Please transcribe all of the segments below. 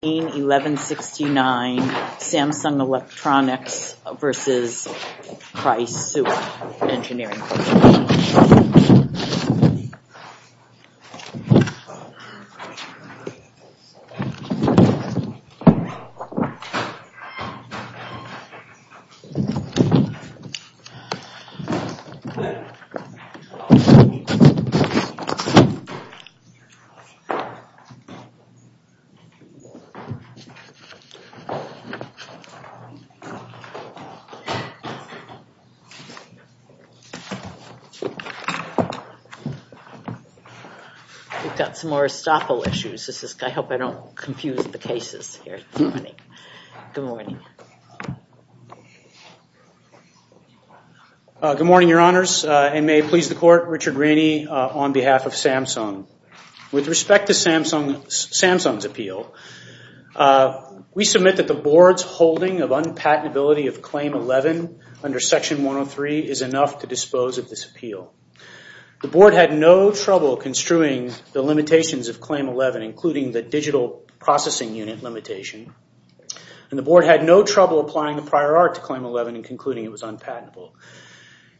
161169 Samsung Electronics v. Prisua Engineering Corp. 161169 Samsung Electronics v. Prisua Engineering Corp. We submit that the Board's holding of unpatentability of Claim 11 under Section 103 is enough to dispose of this appeal. The Board had no trouble construing the limitations of Claim 11, including the digital processing unit limitation. The Board had no trouble applying the prior art to Claim 11 and concluding it was unpatentable.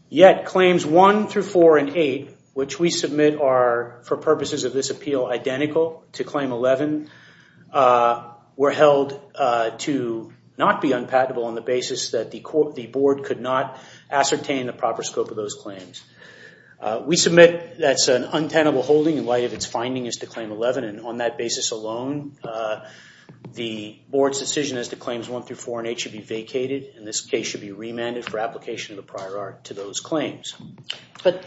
Yet Claims 1 through 4 and 8, which we submit are, for purposes of this appeal, identical to Claim 11, were held to not be unpatentable on the basis that the Board could not ascertain the proper scope of those claims. We submit that's an untenable holding in light of its finding as to Claim 11 and on that basis alone, the Board's decision as to Claims 1 through 4 and 8 should be vacated and this case should be remanded for application of the prior art to those claims. But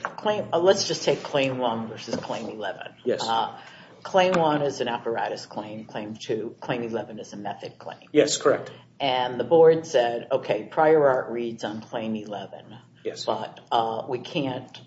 let's just take Claim 1 versus Claim 11. Claim 1 is an apparatus claim. Claim 2, Claim 11 is a method claim. Yes, correct. And the Board said, okay, prior art reads on Claim 11, but we can't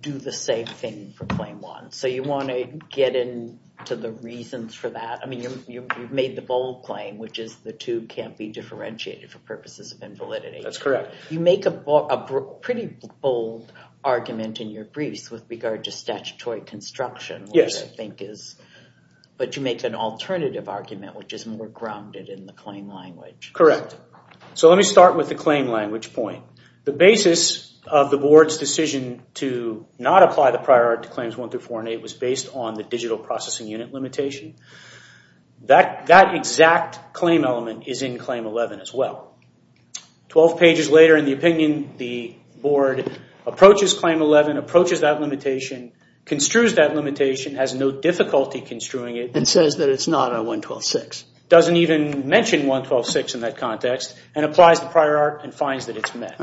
do the same thing for Claim 1. So you want to get into the reasons for that. I mean, you've made the bold claim, which is the two can't be differentiated for purposes of invalidity. That's correct. You make a pretty bold argument in your briefs with regard to statutory construction, but you make an alternative argument, which is more grounded in the claim language. Correct. So let me start with the claim language point. The basis of the Board's decision to not apply the prior art to Claims 1 through 4 and 8 was based on the digital processing unit limitation. That exact claim element is in Claim 11 as well. Twelve pages later in the opinion, the Board approaches Claim 11, approaches that limitation, construes that limitation, has no difficulty construing it. And says that it's not a 112.6. Doesn't even mention 112.6 in that context and applies the prior art and finds that it's met.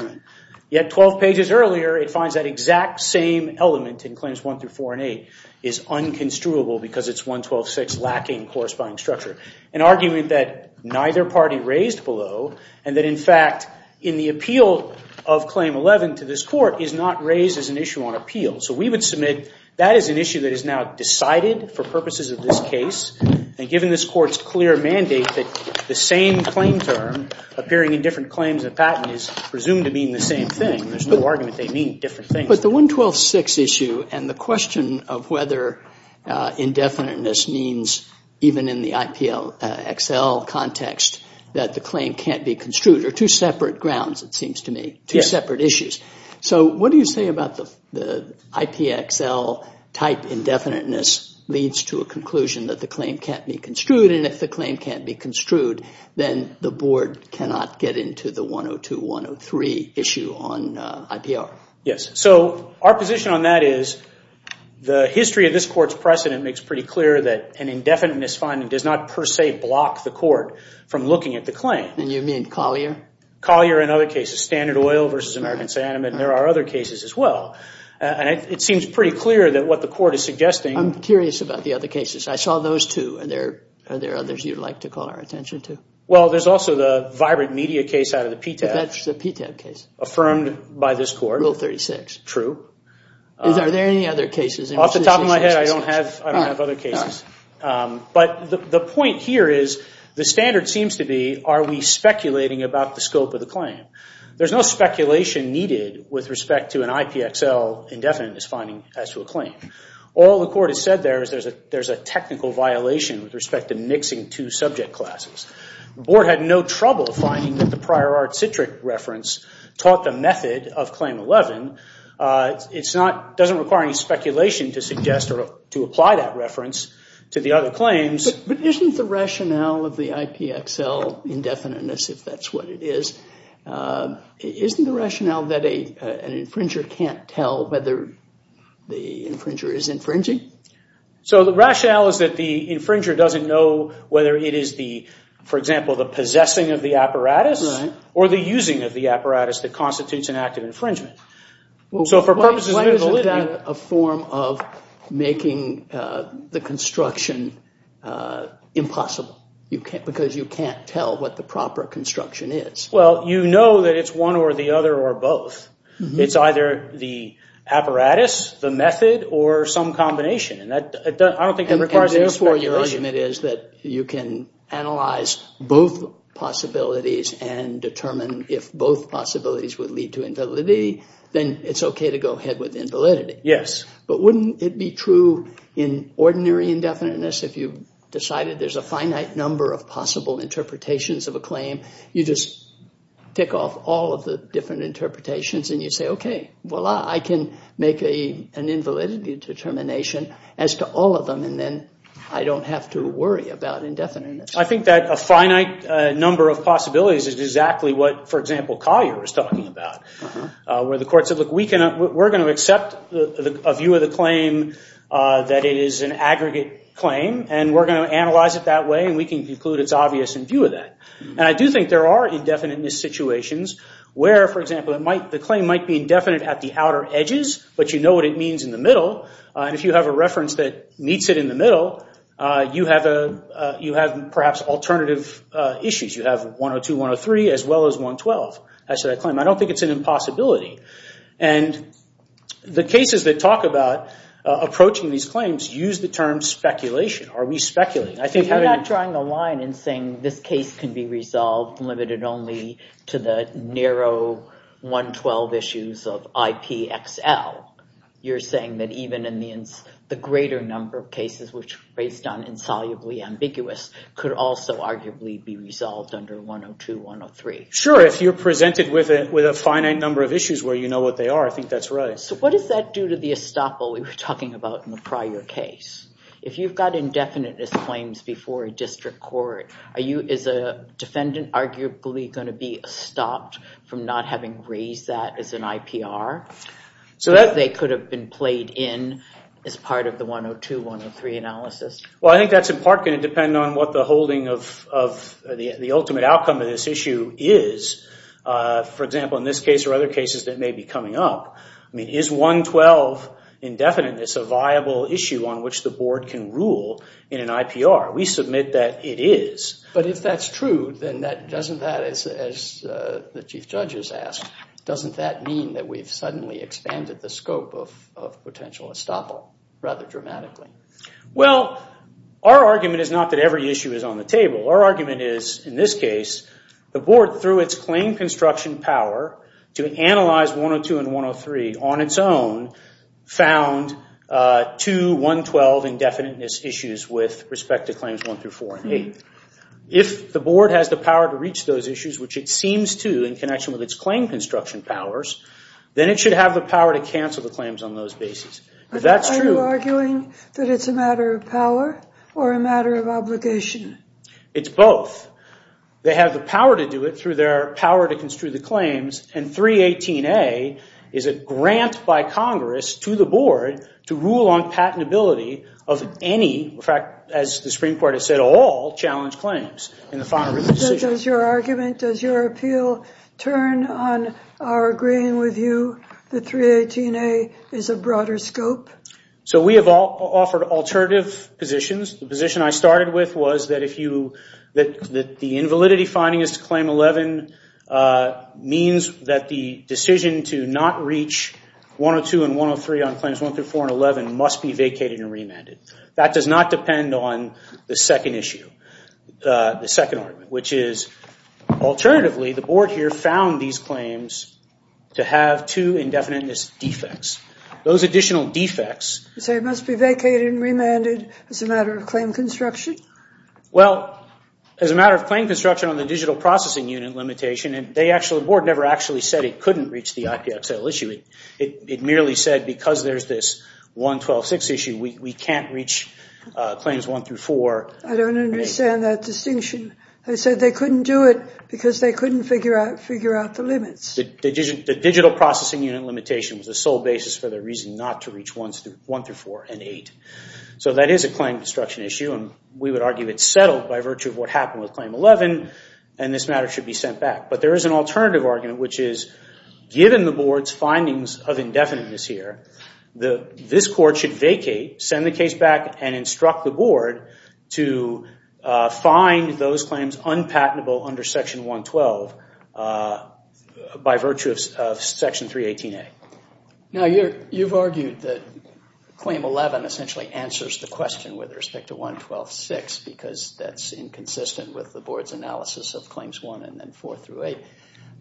Yet twelve pages earlier, it finds that exact same element in Claims 1 through 4 and 8 is unconstruable because it's 112.6 lacking corresponding structure. An argument that neither party raised below and that in fact in the appeal of Claim 11 to this Court is not raised as an issue on appeal. So we would submit that is an issue that is now decided for purposes of this case. And given this Court's clear mandate that the same claim term appearing in different claims of patent is presumed to mean the same thing. There's no argument they mean different things. But the 112.6 issue and the question of whether indefiniteness means even in the IPXL context that the claim can't be construed are two separate grounds it seems to me. Two separate issues. So what do you say about the IPXL type indefiniteness leads to a conclusion that the claim can't be construed and if the claim can't be construed, then the Board cannot get into the 102.103 issue on IPR. Yes, so our position on that is the history of this Court's precedent makes pretty clear that an indefiniteness finding does not per se block the Court from looking at the claim. And you mean Collier? Collier and other cases, Standard Oil versus American Sandman, and there are other cases as well. And it seems pretty clear that what the Court is suggesting. I'm curious about the other cases. I saw those two. Are there others you'd like to call our attention to? Well, there's also the Vibrant Media case out of the PTAB. That's the PTAB case. Affirmed by this Court. Rule 36. True. Are there any other cases? Off the top of my head, I don't have other cases. But the point here is, the standard seems to be, are we speculating about the scope of the claim? There's no speculation needed with respect to an IPXL indefiniteness finding as to a claim. All the Court has said there is there's a technical violation with respect to mixing two subject classes. The Board had no trouble finding that the Prior Art Citric reference taught the method of Claim 11. It's not, doesn't require any speculation to suggest or to apply that reference to the other claims. But isn't the rationale of the IPXL indefiniteness, if that's what it is, isn't the rationale that an infringer can't tell whether the infringer is infringing? So the rationale is that the infringer doesn't know whether it is the, for example, the possessing of the apparatus or the using of the apparatus that constitutes an act of infringement. So for purposes of validity... Why isn't that a form of making the construction impossible? Because you can't tell what the proper construction is. Well, you know that it's one or the other or both. It's either the apparatus, the method, or some combination. And that, I don't think it requires any speculation. So your argument is that you can analyze both possibilities and determine if both possibilities would lead to invalidity, then it's okay to go ahead with invalidity. Yes. But wouldn't it be true in ordinary indefiniteness if you decided there's a finite number of possible interpretations of a claim, you just tick off all of the different interpretations and you say, okay, well, I can make an invalidity determination as to all of them and then I don't have to worry about indefiniteness? I think that a finite number of possibilities is exactly what, for example, Collier was talking about, where the court said, look, we're going to accept a view of the claim that it is an aggregate claim and we're going to analyze it that way and we can conclude it's obvious in view of that. And I do think there are indefiniteness situations where, for example, the claim might be indefinite at the outer edges, but you know what it means in the middle. If you have a reference that meets it in the middle, you have perhaps alternative issues. You have 102, 103, as well as 112 as to that claim. I don't think it's an impossibility. And the cases that talk about approaching these claims use the term speculation. Are we speculating? I think having- You're not drawing the line and saying this case can be resolved limited only to the narrow 112 issues of IPXL. You're saying that even in the greater number of cases which are based on insolubly ambiguous could also arguably be resolved under 102, 103. Sure. If you're presented with a finite number of issues where you know what they are, I think that's right. So what does that do to the estoppel we were talking about in the prior case? If you've got indefiniteness claims before a district court, is a defendant arguably going to be stopped from not having raised that as an IPR? So that they could have been played in as part of the 102, 103 analysis? Well, I think that's in part going to depend on what the holding of the ultimate outcome of this issue is. For example, in this case or other cases that may be coming up, I mean, is 112 indefiniteness a viable issue on which the board can rule in an IPR? We submit that it is. But if that's true, then doesn't that, as the Chief Judge has asked, doesn't that mean that we've suddenly expanded the scope of potential estoppel rather dramatically? Well, our argument is not that every issue is on the table. Our argument is, in this case, the board, through its claim construction power to analyze 102 and 103 on its own, found two 112 indefiniteness issues with respect to claims one through four and eight. If the board has the power to reach those issues, which it seems to in connection with its claim construction powers, then it should have the power to cancel the claims on those bases. If that's true. Are you arguing that it's a matter of power or a matter of obligation? It's both. They have the power to do it through their power to construe the claims. And 318A is a grant by Congress to the board to rule on patentability of any, in fact, as the Supreme Court has said, all challenge claims in the final written decision. Does your argument, does your appeal turn on our agreeing with you that 318A is a broader scope? So we have offered alternative positions. The position I started with was that the invalidity finding is to claim 11 means that the decision to not reach 102 and 103 on claims one through four and 11 must be vacated and remanded. That does not depend on the second issue, the second argument, which is, alternatively, the board here found these claims to have two indefiniteness defects. Those additional defects. So it must be vacated and remanded as a matter of claim construction? Well, as a matter of claim construction on the digital processing unit limitation, the board never actually said it couldn't reach the IPXL issue. It merely said because there's this 112.6 issue, we can't reach claims one through four. I don't understand that distinction. They said they couldn't do it because they couldn't figure out the limits. The digital processing unit limitation was the sole basis for their reason not to reach one through four and eight. So that is a claim construction issue, and we would argue it's settled by virtue of what happened with claim 11, and this matter should be sent back. But there is an alternative argument, which is, given the board's findings of indefiniteness here, this court should vacate, send the case back, and instruct the board to find those claims unpatentable under section 112 by virtue of section 318A. Now, you've argued that claim 11 essentially answers the question with respect to 112.6 because that's inconsistent with the board's analysis of claims one and then four through eight.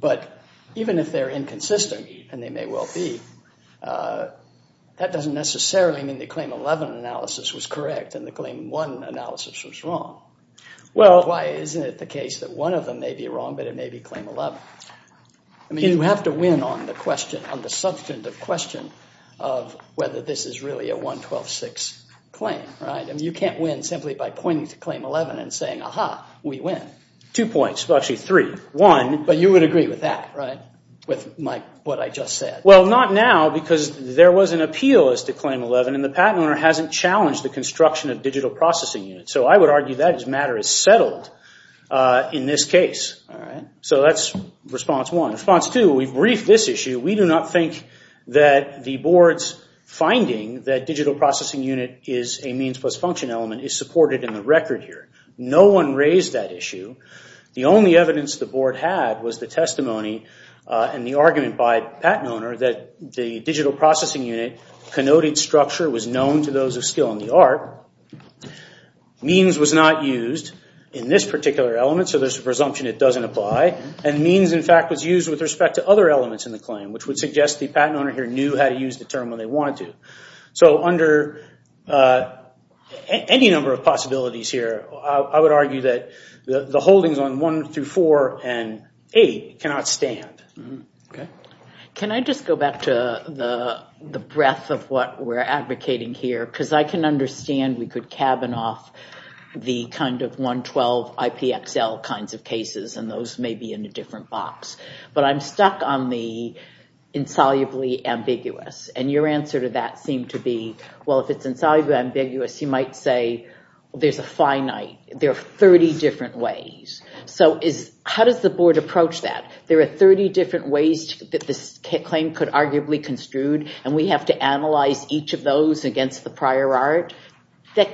But even if they're inconsistent, and they may well be, that doesn't necessarily mean the claim 11 analysis was correct and the claim one analysis was wrong. Why isn't it the case that one of them may be wrong, but it may be claim 11? You have to win on the question, on the substantive question of whether this is really a 112.6 claim. You can't win simply by pointing to claim 11 and saying, aha, we win. Two points. Well, actually, three. One. But you would agree with that, right? With what I just said? Well, not now, because there was an appeal as to claim 11, and the patent owner hasn't challenged the construction of digital processing units. So I would argue that matter is settled in this case. So that's response one. Response two, we've briefed this issue. We do not think that the board's finding that digital processing unit is a means plus function element is supported in the record here. No one raised that issue. The only evidence the board had was the testimony and the argument by the patent owner that the digital processing unit connoted structure was known to those of skill in the art. Means was not used in this particular element, so there's a presumption it doesn't apply. And means, in fact, was used with respect to other elements in the claim, which would suggest the patent owner here knew how to use the term when they wanted to. So under any number of possibilities here, I would argue that the holdings on 1 through 4 and 8 cannot stand. Can I just go back to the breadth of what we're advocating here? Because I can understand we could cabin off the kind of 112 IPXL kinds of cases, and those may be in a different box. But I'm stuck on the insolubly ambiguous. And your answer to that seemed to be, well, if it's insolubly ambiguous, you might say there's a finite, there are 30 different ways. So how does the board approach that? There are 30 different ways that this claim could arguably construed, and we have to analyze each of those against the prior art. That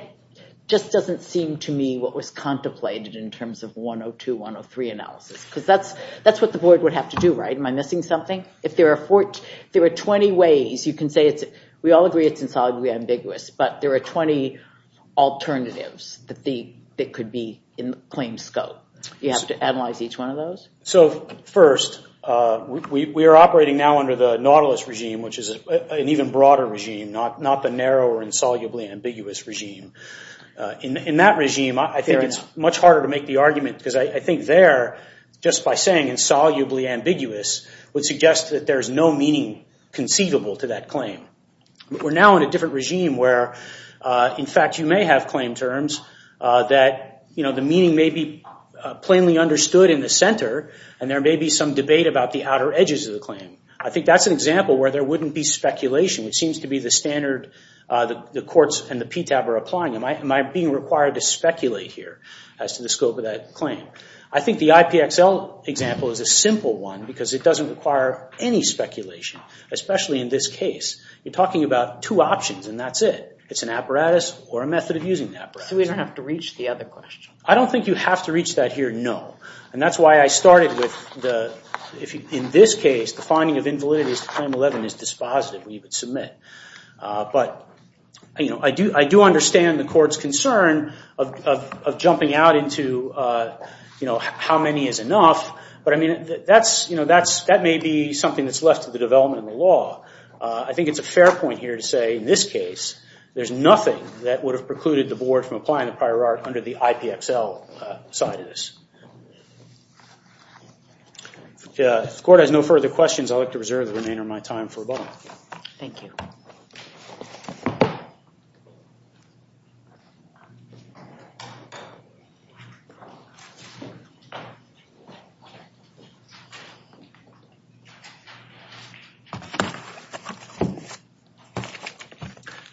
just doesn't seem to me what was contemplated in terms of 102, 103 analysis, because that's what the board would have to do, right? Am I missing something? If there are 20 ways, you can say, we all agree it's insolubly ambiguous, but there are 20 alternatives that could be in the claim scope. You have to analyze each one of those? So first, we are operating now under the Nautilus regime, which is an even broader regime, not the narrow or insolubly ambiguous regime. In that regime, I think it's much harder to make the argument, because I think there, just by saying insolubly ambiguous, would suggest that there is no meaning conceivable to that claim. We're now in a different regime where, in fact, you may have claim terms that the meaning may be plainly understood in the center, and there may be some debate about the outer edges of the claim. I think that's an example where there wouldn't be speculation, which seems to be the standard the courts and the PTAB are applying. Am I being required to speculate here as to the scope of that claim? I think the IPXL example is a simple one, because it doesn't require any speculation, especially in this case. You're talking about two options, and that's it. It's an apparatus or a method of using the apparatus. So we don't have to reach the other question? I don't think you have to reach that here, no. And that's why I started with, in this case, the finding of invalidity as to Claim 11 is dispositive. We would submit. But I do understand the court's concern of jumping out into how many is enough. But that may be something that's left to the development of the law. I think it's a fair point here to say, in this case, there's nothing that would have precluded the board from applying the prior art under the IPXL side of this. If the court has no further questions, I'd like to reserve the remainder of my time for Thank you.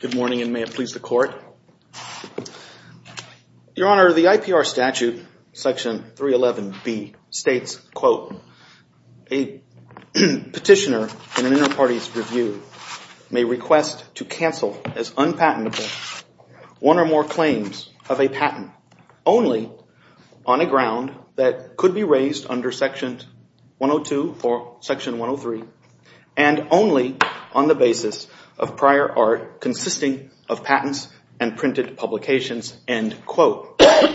Good morning, and may it please the court. Your Honor, the IPR statute, section 311B, states, quote, A petitioner in an inter-party's review may request to cancel as unpatentable one or more claims of a patent only on a ground that could be raised under section 102 or section 103 and only on the basis of prior art consisting of patents and printed publications, end quote. So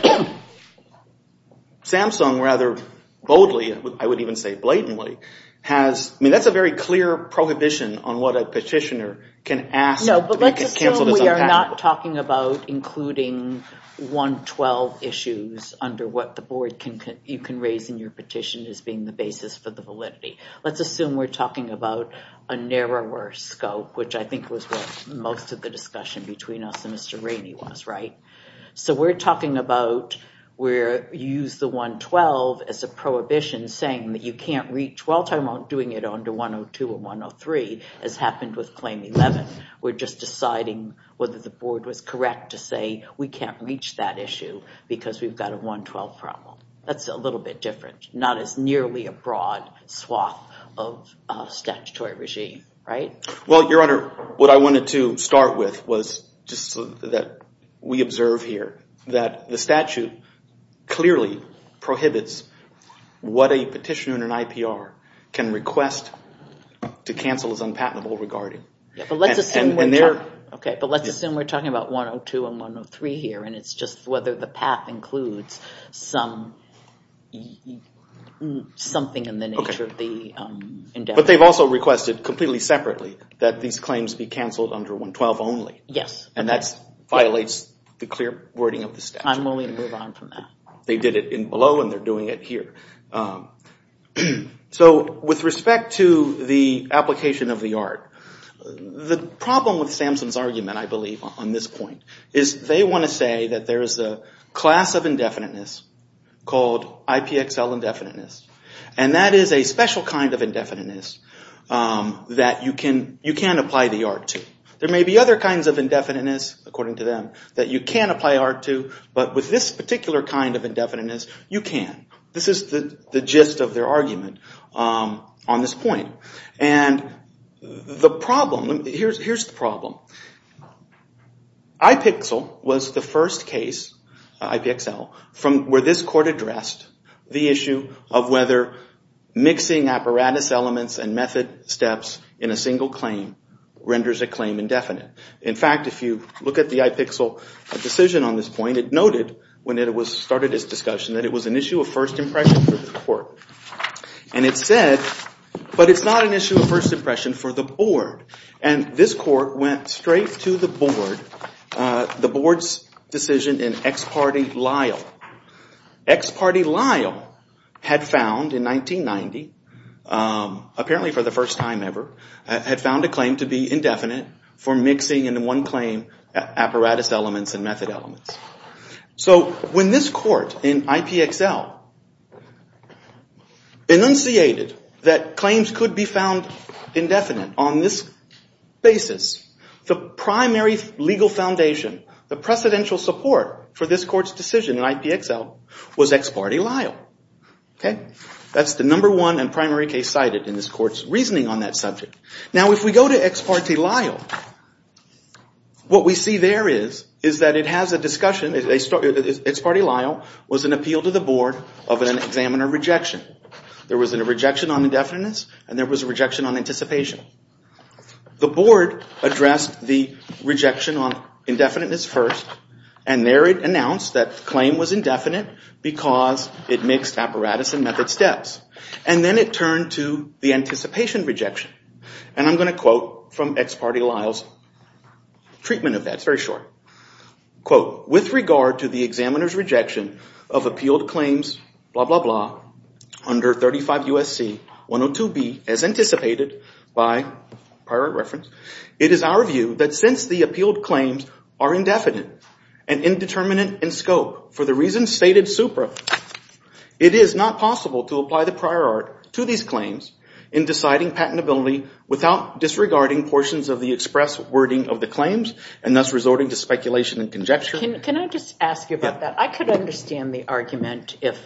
Samsung, rather boldly, I would even say blatantly, has, I mean, that's a very clear prohibition on what a petitioner can ask to be canceled as unpatentable. No, but let's assume we are not talking about including 112 issues under what the board can, you can raise in your petition as being the basis for the validity. Let's assume we're talking about a narrower scope, which I think was what most of the discussion between us and Mr. Rainey was, right? So we're talking about where you use the 112 as a prohibition saying that you can't reach, we're all talking about doing it under 102 or 103, as happened with claim 11. We're just deciding whether the board was correct to say we can't reach that issue because we've got a 112 problem. That's a little bit different, not as nearly a broad swath of statutory regime, right? Well, Your Honor, what I wanted to start with was just that we observe here that the statute clearly prohibits what a petitioner in an IPR can request to cancel as unpatentable regarding. Okay, but let's assume we're talking about 102 and 103 here and it's just whether the path includes something in the nature of the endeavor. But they've also requested completely separately that these claims be canceled under 112 only. Yes. And that violates the clear wording of the statute. I'm willing to move on from that. They did it in below and they're doing it here. So with respect to the application of the art, the problem with Samson's argument, I believe, on this point is they want to say that there is a class of indefiniteness called IPXL indefiniteness. And that is a special kind of indefiniteness that you can apply the art to. There may be other kinds of indefiniteness, according to them, that you can apply art to, but with this particular kind of indefiniteness, you can. This is the gist of their argument on this point. And the problem, here's the problem. IPXL was the first case, IPXL, where this court addressed the issue of whether mixing apparatus elements and method steps in a single claim renders a claim indefinite. In fact, if you look at the IPXL decision on this point, it noted when it started its discussion that it was an issue of first impression for the court. And it said, but it's not an issue of first impression for the board. And this court went straight to the board, the board's decision in ex parte liel. Ex parte liel had found in 1990, apparently for the first time ever, had found a claim to be indefinite for mixing in one claim apparatus elements and method elements. So when this court in IPXL enunciated that claims could be found indefinite on this basis, the primary legal foundation, the precedential support for this court's decision in IPXL was ex parte liel. That's the number one and primary case cited in this court's reasoning on that subject. Now, if we go to ex parte liel, what we see there is that it has a discussion, ex parte liel was an appeal to the board of an examiner rejection. There was a rejection on indefiniteness, and there was a rejection on anticipation. The board addressed the rejection on indefiniteness first, and there it announced that the claim was indefinite because it mixed apparatus and method steps. And then it turned to the anticipation rejection. And I'm going to quote from ex parte liel's treatment of that. It's very short. Quote, with regard to the examiner's rejection of appealed claims, blah, blah, blah, under 35 U.S.C. 102B as anticipated by prior reference, it is our view that since the appealed claims are indefinite and indeterminate in scope for the reasons stated supra, it is not possible to apply the prior art to these claims in deciding patentability without disregarding portions of the express wording of the claims and thus resorting to speculation and conjecture. Can I just ask you about that? I could understand the argument if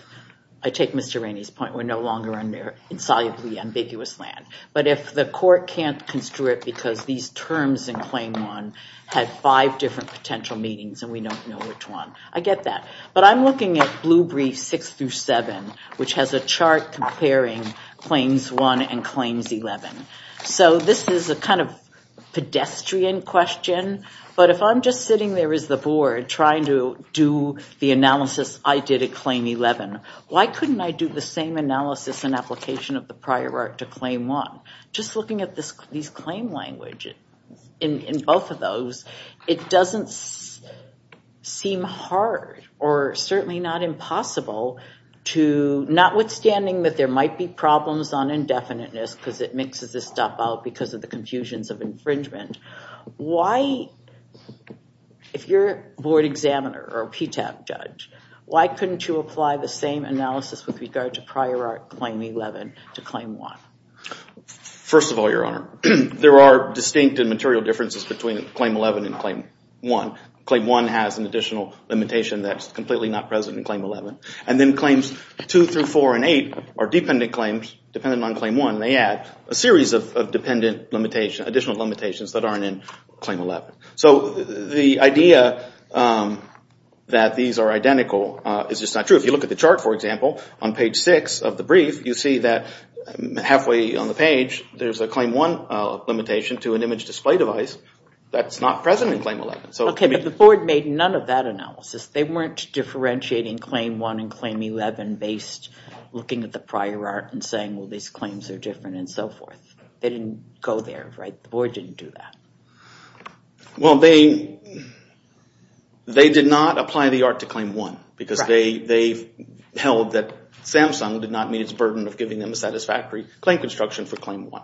I take Mr. Rainey's point. We're no longer in their insolubly ambiguous land. But if the court can't construe it because these terms in claim one had five different potential meanings and we don't know which one, I get that. But I'm looking at blue brief six through seven, which has a chart comparing claims one and claims 11. So this is a kind of pedestrian question. But if I'm just sitting there as the board trying to do the analysis I did at claim 11, why couldn't I do the same analysis and application of the prior art to claim one? Just looking at this claim language in both of those, it doesn't seem hard or certainly not impossible to notwithstanding that there might be problems on indefiniteness because it mixes this stuff out because of the confusions of infringement. Why, if you're a board examiner or a PTAP judge, why couldn't you apply the same analysis with regard to prior art claim 11 to claim one? First of all, Your Honor, there are distinct and material differences between claim 11 and claim one. Claim one has an additional limitation that's completely not present in claim 11. And then claims two through four and eight are dependent claims, dependent on claim one. A series of additional limitations that aren't in claim 11. So the idea that these are identical is just not true. If you look at the chart, for example, on page six of the brief, you see that halfway on the page there's a claim one limitation to an image display device that's not present in claim 11. Okay, but the board made none of that analysis. They weren't differentiating claim one and claim 11 based looking at the prior art and these claims are different and so forth. They didn't go there, right? The board didn't do that. Well, they did not apply the art to claim one because they held that Samsung did not meet its burden of giving them a satisfactory claim construction for claim one.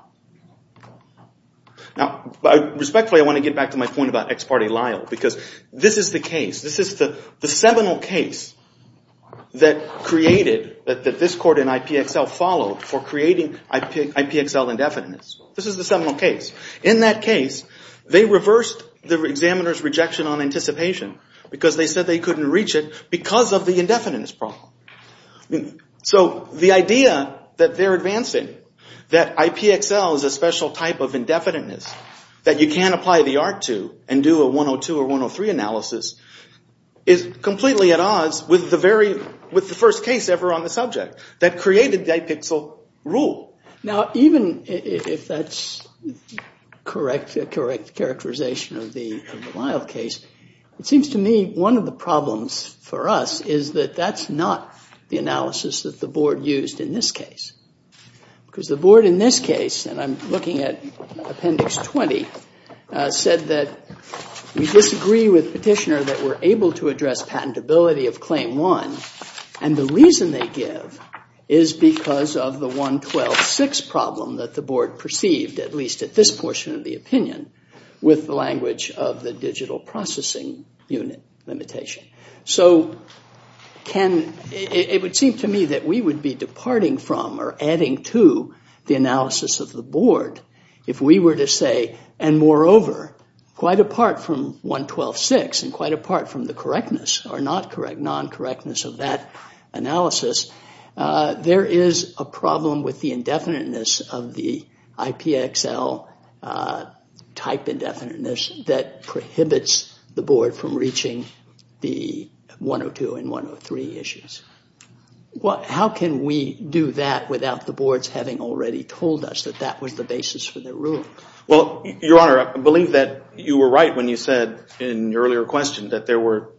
Now, respectfully, I want to get back to my point about ex parte lial because this is the case. This is the seminal case that created, that this court in IPXL followed for creating IPXL indefiniteness. This is the seminal case. In that case, they reversed the examiner's rejection on anticipation because they said they couldn't reach it because of the indefiniteness problem. So the idea that they're advancing that IPXL is a special type of indefiniteness that you can't apply the art to and do a 102 or 103 analysis is completely at odds with the first case ever on the subject that created the IPXL rule. Now, even if that's correct, a correct characterization of the Lyle case, it seems to me one of the problems for us is that that's not the analysis that the board used in this case because the board in this case, and I'm looking at appendix 20, said that we disagree with petitioner that we're able to address patentability of claim one and the reason they give is because of the 112.6 problem that the board perceived, at least at this portion of the opinion, with the language of the digital processing unit limitation. So it would seem to me that we would be departing from or adding to the analysis of the board if we were to say, and moreover, quite apart from 112.6 and quite apart from the correctness or non-correctness of that analysis, there is a problem with the indefiniteness of the 102 and 103 issues. How can we do that without the boards having already told us that that was the basis for the rule? Well, Your Honor, I believe that you were right when you said in your earlier question that there were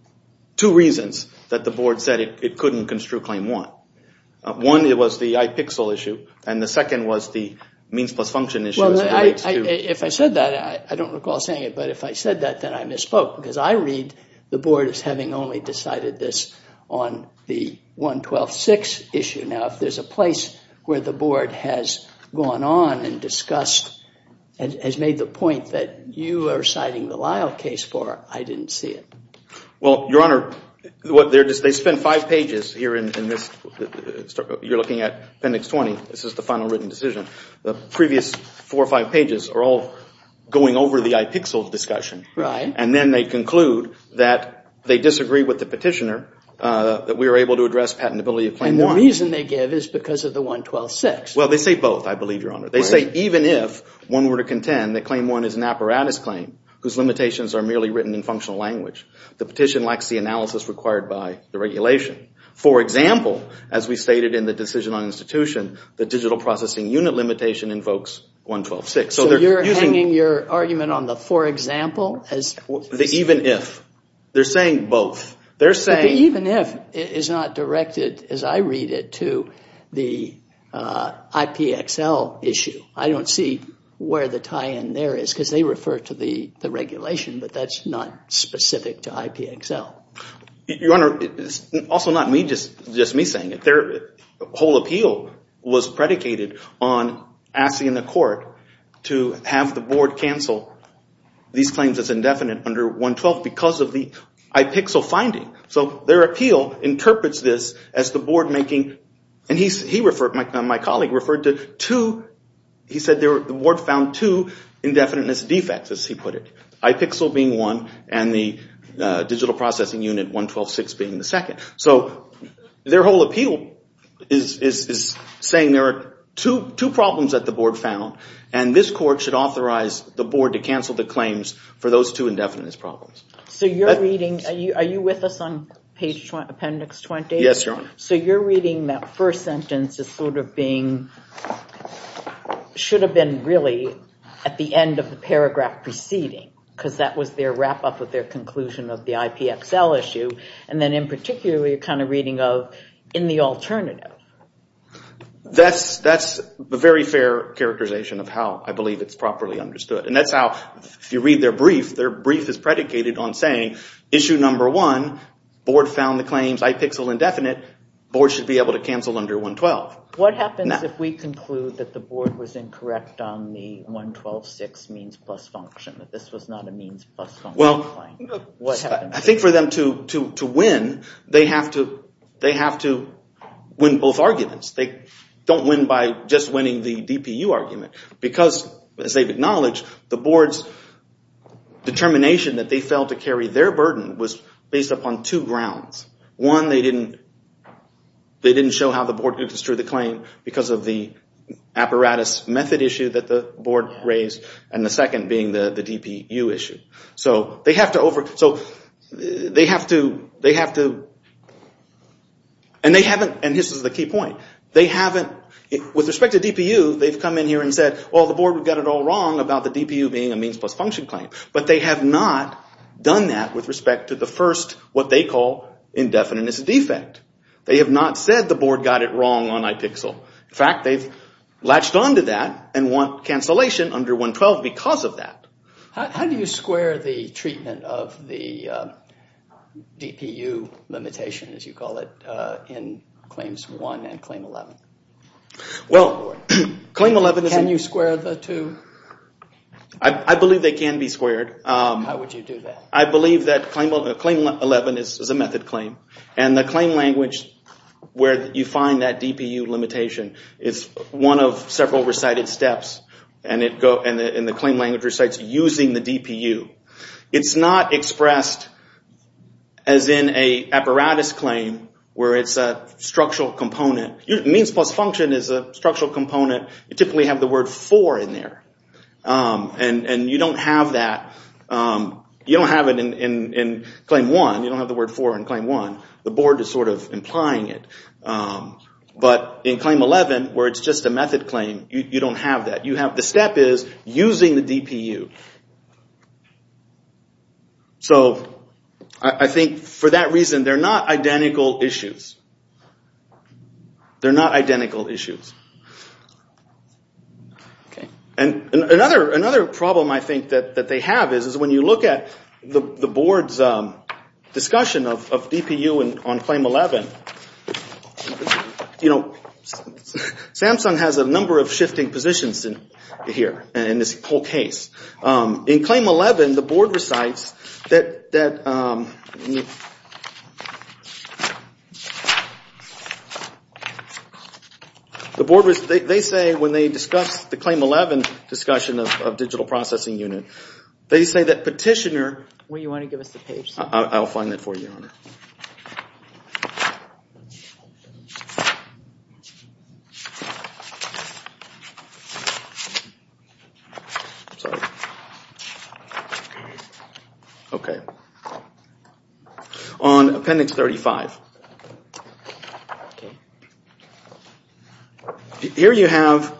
two reasons that the board said it couldn't construe claim one. One, it was the IPXL issue and the second was the means plus function issue. If I said that, I don't recall saying it, but if I said that, then I misspoke because I read the board as having only decided this on the 112.6 issue. Now, if there's a place where the board has gone on and discussed and has made the point that you are citing the Lyle case for, I didn't see it. Well, Your Honor, they spent five pages here in this. You're looking at Appendix 20. This is the final written decision. The previous four or five pages are all going over the IPXL discussion. Right. Then they conclude that they disagree with the petitioner that we were able to address patentability of claim one. The reason they give is because of the 112.6. Well, they say both, I believe, Your Honor. They say even if one were to contend that claim one is an apparatus claim whose limitations are merely written in functional language, the petition lacks the analysis required by the regulation. For example, as we stated in the decision on institution, the digital processing unit limitation invokes 112.6. You're hanging your argument on the for example? The even if. They're saying both. They're saying... The even if is not directed, as I read it, to the IPXL issue. I don't see where the tie-in there is because they refer to the regulation, but that's not specific to IPXL. Your Honor, it's also not just me saying it. The whole appeal was predicated on asking the court to have the board cancel these claims as indefinite under 112 because of the IPXL finding. Their appeal interprets this as the board making... My colleague referred to two... He said the board found two indefiniteness defects, as he put it. IPXL being one and the digital processing unit 112.6 being the second. So their whole appeal is saying there are two problems that the board found, and this court should authorize the board to cancel the claims for those two indefiniteness problems. So you're reading... Are you with us on page appendix 20? Yes, Your Honor. So you're reading that first sentence as sort of being... Should have been really at the end of the paragraph preceding because that was their wrap-up of their conclusion of the IPXL issue. And then in particular, you're kind of reading of in the alternative. That's a very fair characterization of how I believe it's properly understood. And that's how, if you read their brief, their brief is predicated on saying, issue number one, board found the claims IPXL indefinite, board should be able to cancel under 112. What happens if we conclude that the board was incorrect on the 112.6 means plus function, that this was not a means plus function claim? I think for them to win, they have to win both arguments. They don't win by just winning the DPU argument because, as they've acknowledged, the board's determination that they failed to carry their burden was based upon two grounds. One, they didn't show how the board could destroy the claim because of the apparatus method issue that the board raised. And the second being the DPU issue. So they have to over, so they have to, they have to, and they haven't, and this is the key point, they haven't, with respect to DPU, they've come in here and said, well, the board would get it all wrong about the DPU being a means plus function claim. But they have not done that with respect to the first, what they call, indefinite defect. They have not said the board got it wrong on IPXL. In fact, they've latched onto that and want cancellation under 112 because of that. How do you square the treatment of the DPU limitation, as you call it, in Claims 1 and Claim 11? Well, Claim 11 is... Can you square the two? I believe they can be squared. How would you do that? I believe that Claim 11 is a method claim, and the claim language where you find that using the DPU. It's not expressed as in an apparatus claim where it's a structural component. Means plus function is a structural component. You typically have the word for in there, and you don't have that. You don't have it in Claim 1. You don't have the word for in Claim 1. The board is sort of implying it. But in Claim 11, where it's just a method claim, you don't have that. The step is using the DPU. So I think for that reason, they're not identical issues. They're not identical issues. And another problem I think that they have is when you look at the board's discussion of here in this whole case, in Claim 11, the board recites that... They say when they discuss the Claim 11 discussion of digital processing unit, they say that petitioner... Will you want to give us the page? I'll find that for you. Sorry. Okay. On Appendix 35. Here you have...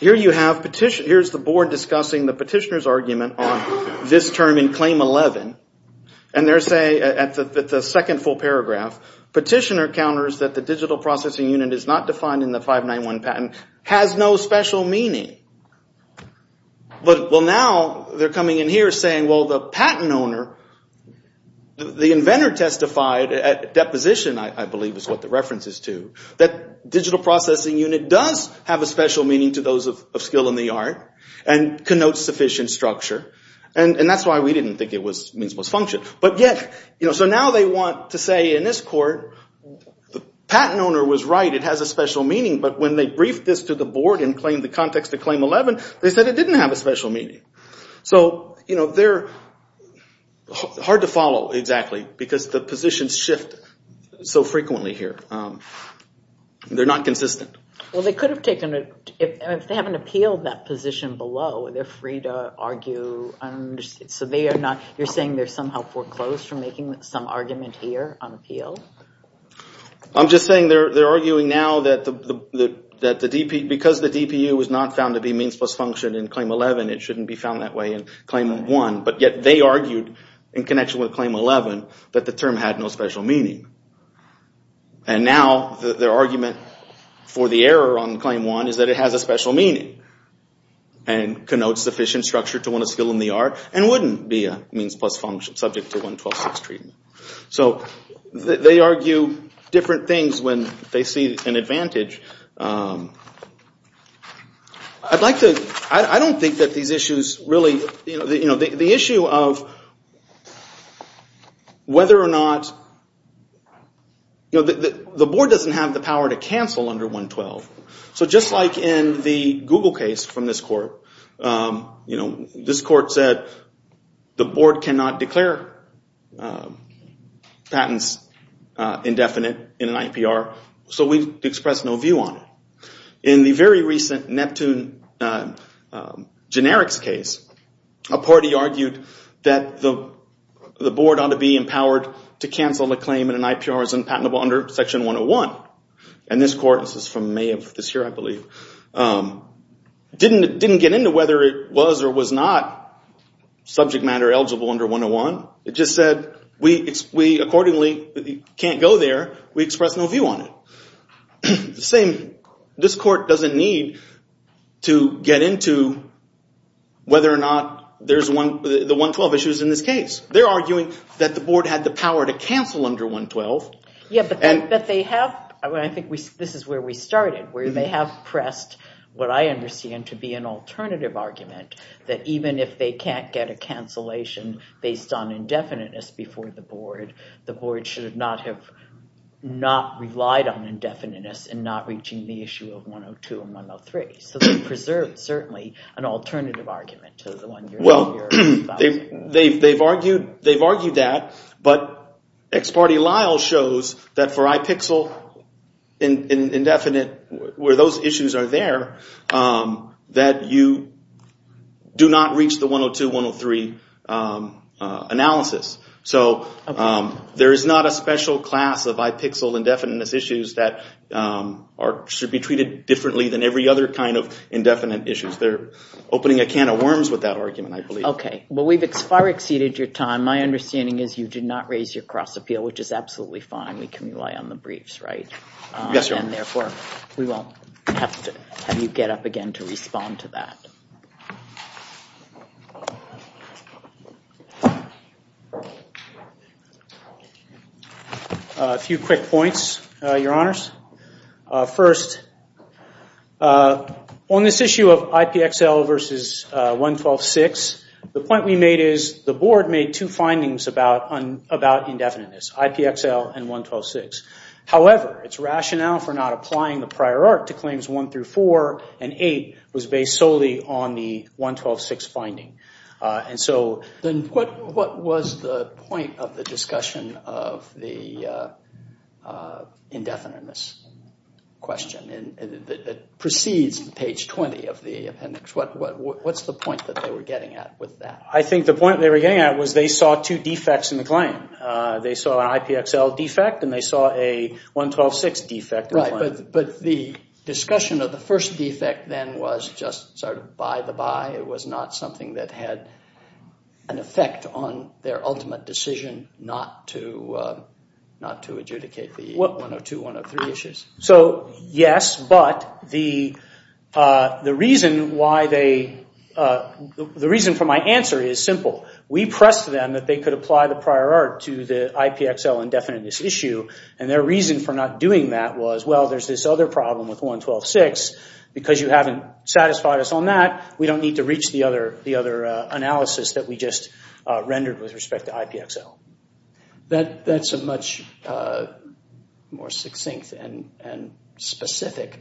Here you have petition... Here's the board discussing the petitioner's argument on this term in Claim 11. And they're saying at the second full paragraph, petitioner counters that the digital processing unit is not defined in the 591 patent, has no special meaning. Well, now they're coming in here saying, well, the patent owner, the inventor testified at deposition, I believe is what the reference is to, that digital processing unit does have a special meaning to those of skill in the art and connotes sufficient structure. And that's why we didn't think it was means most function. But yet, so now they want to say in this court, the patent owner was right. It has a special meaning. But when they briefed this to the board and claimed the context of Claim 11, they said it didn't have a special meaning. So they're hard to follow exactly because the positions shift so frequently here. They're not consistent. Well, they could have taken it. If they haven't appealed that position below, they're free to argue. So they are not, you're saying they're somehow foreclosed from making some argument here on appeal? I'm just saying they're arguing now that the DPU, because the DPU was not found to be means most function in Claim 11, it shouldn't be found that way in Claim 1. But yet they argued in connection with Claim 11 that the term had no special meaning. And now their argument for the error on Claim 1 is that it has a special meaning. And connotes sufficient structure to win a skill in the art and wouldn't be a means plus function subject to 112 sex treatment. So they argue different things when they see an advantage. I'd like to, I don't think that these issues really, you know, the issue of whether or not, you know, the board doesn't have the power to cancel under 112. So just like in the Google case from this court, you know, this court said the board cannot declare patents indefinite in an IPR. So we've expressed no view on it. In the very recent Neptune generics case, a party argued that the board ought to be empowered to cancel a claim in an IPR as unpatentable under Section 101. And this court, this is from May of this year, I believe, didn't get into whether it was or was not subject matter eligible under 101. It just said, we accordingly can't go there. We express no view on it. The same, this court doesn't need to get into whether or not there's the 112 issues in this case. They're arguing that the board had the power to cancel under 112. Yeah, but they have, I think this is where we started, where they have pressed what I understand to be an alternative argument that even if they can't get a cancellation based on indefiniteness before the board, the board should not have not relied on indefiniteness and not reaching the issue of 102 and 103. So they preserved, certainly, an alternative argument to the one you're arguing. They've argued that, but ex parte Lyle shows that for IPIXL indefinite, where those issues are there, that you do not reach the 102, 103 analysis. So there is not a special class of IPIXL indefiniteness issues that should be treated differently than every other kind of indefinite issues. They're opening a can of worms with that argument, I believe. Well, we've far exceeded your time. My understanding is you did not raise your cross appeal, which is absolutely fine. We can rely on the briefs, right? Yes, Your Honor. And therefore, we won't have to have you get up again to respond to that. A few quick points, Your Honors. First, on this issue of IPXL versus 112.6, the point we made is the board made two findings about indefiniteness, IPXL and 112.6. However, its rationale for not applying the prior art to claims one through four and eight was based solely on the 112.6 finding. And so then what was the point of the discussion of the indefiniteness question that precedes page 20 of the appendix? What's the point that they were getting at with that? I think the point they were getting at was they saw two defects in the claim. They saw an IPXL defect and they saw a 112.6 defect. Right, but the discussion of the first defect then was just sort of by the by. It was not something that had an effect on their ultimate decision not to adjudicate the 102, 103 issues. So, yes, but the reason for my answer is simple. We pressed them that they could apply the prior art to the IPXL indefiniteness issue and their reason for not doing that was, well, there's this other problem with 112.6. Because you haven't satisfied us on that, we don't need to reach the other analysis that we just rendered with respect to IPXL. That's a much more succinct and specific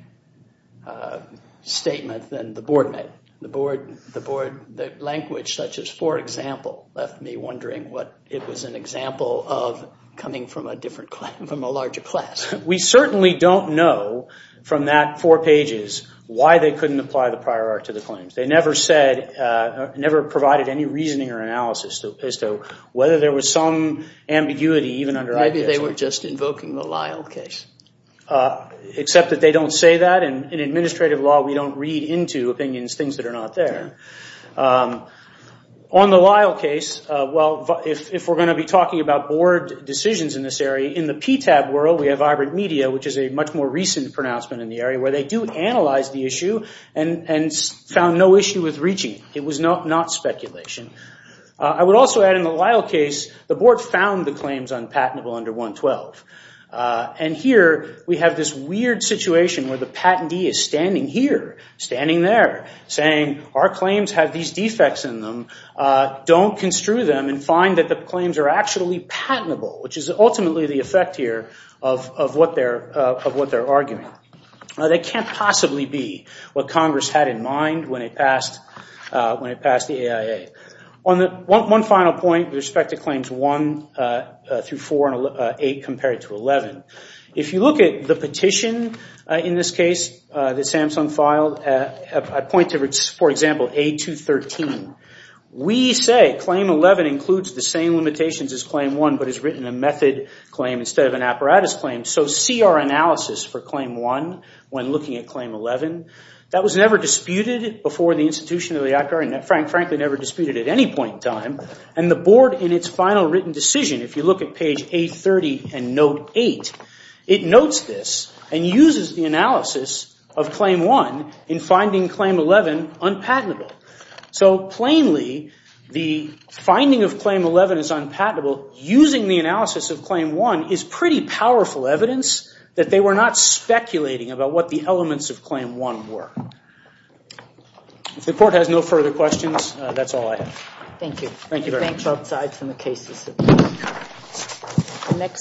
statement than the board made. The language such as, for example, left me wondering what it was an example of coming from a larger class. We certainly don't know from that four pages why they couldn't apply the prior art to the claims. They never provided any reasoning or analysis as to whether there was some ambiguity even under IPXL. Maybe they were just invoking the Lyle case. Except that they don't say that. In administrative law, we don't read into opinions, things that are not there. On the Lyle case, well, if we're going to be talking about board decisions in this area, in the PTAB world, we have hybrid media, which is a much more recent pronouncement in the area, where they do analyze the issue and found no issue with reaching it. It was not speculation. I would also add in the Lyle case, the board found the claims on patentable under 112. Here, we have this weird situation where the patentee is standing here, standing there, saying our claims have these defects in them. Don't construe them and find that the claims are actually patentable, which is ultimately the effect here of what they're arguing. They can't possibly be what Congress had in mind when it passed the AIA. One final point with respect to claims 1 through 4 and 8 compared to 11. If you look at the petition in this case that Samsung filed, I point to, for example, A213. We say Claim 11 includes the same limitations as Claim 1, but has written a method claim instead of an apparatus claim. So see our analysis for Claim 1 when looking at Claim 11. That was never disputed before the institution of the ACCA, and frankly, never disputed at any point in time. And the board, in its final written decision, if you look at page 830 and note 8, it notes this and uses the analysis of Claim 1 in finding Claim 11 unpatentable. So, plainly, the finding of Claim 11 is unpatentable using the analysis of Claim 1 is pretty powerful evidence that they were not speculating about what the elements of Claim 1 were. If the court has no further questions, that's all I have. Thank you very much. Thanks from the cases.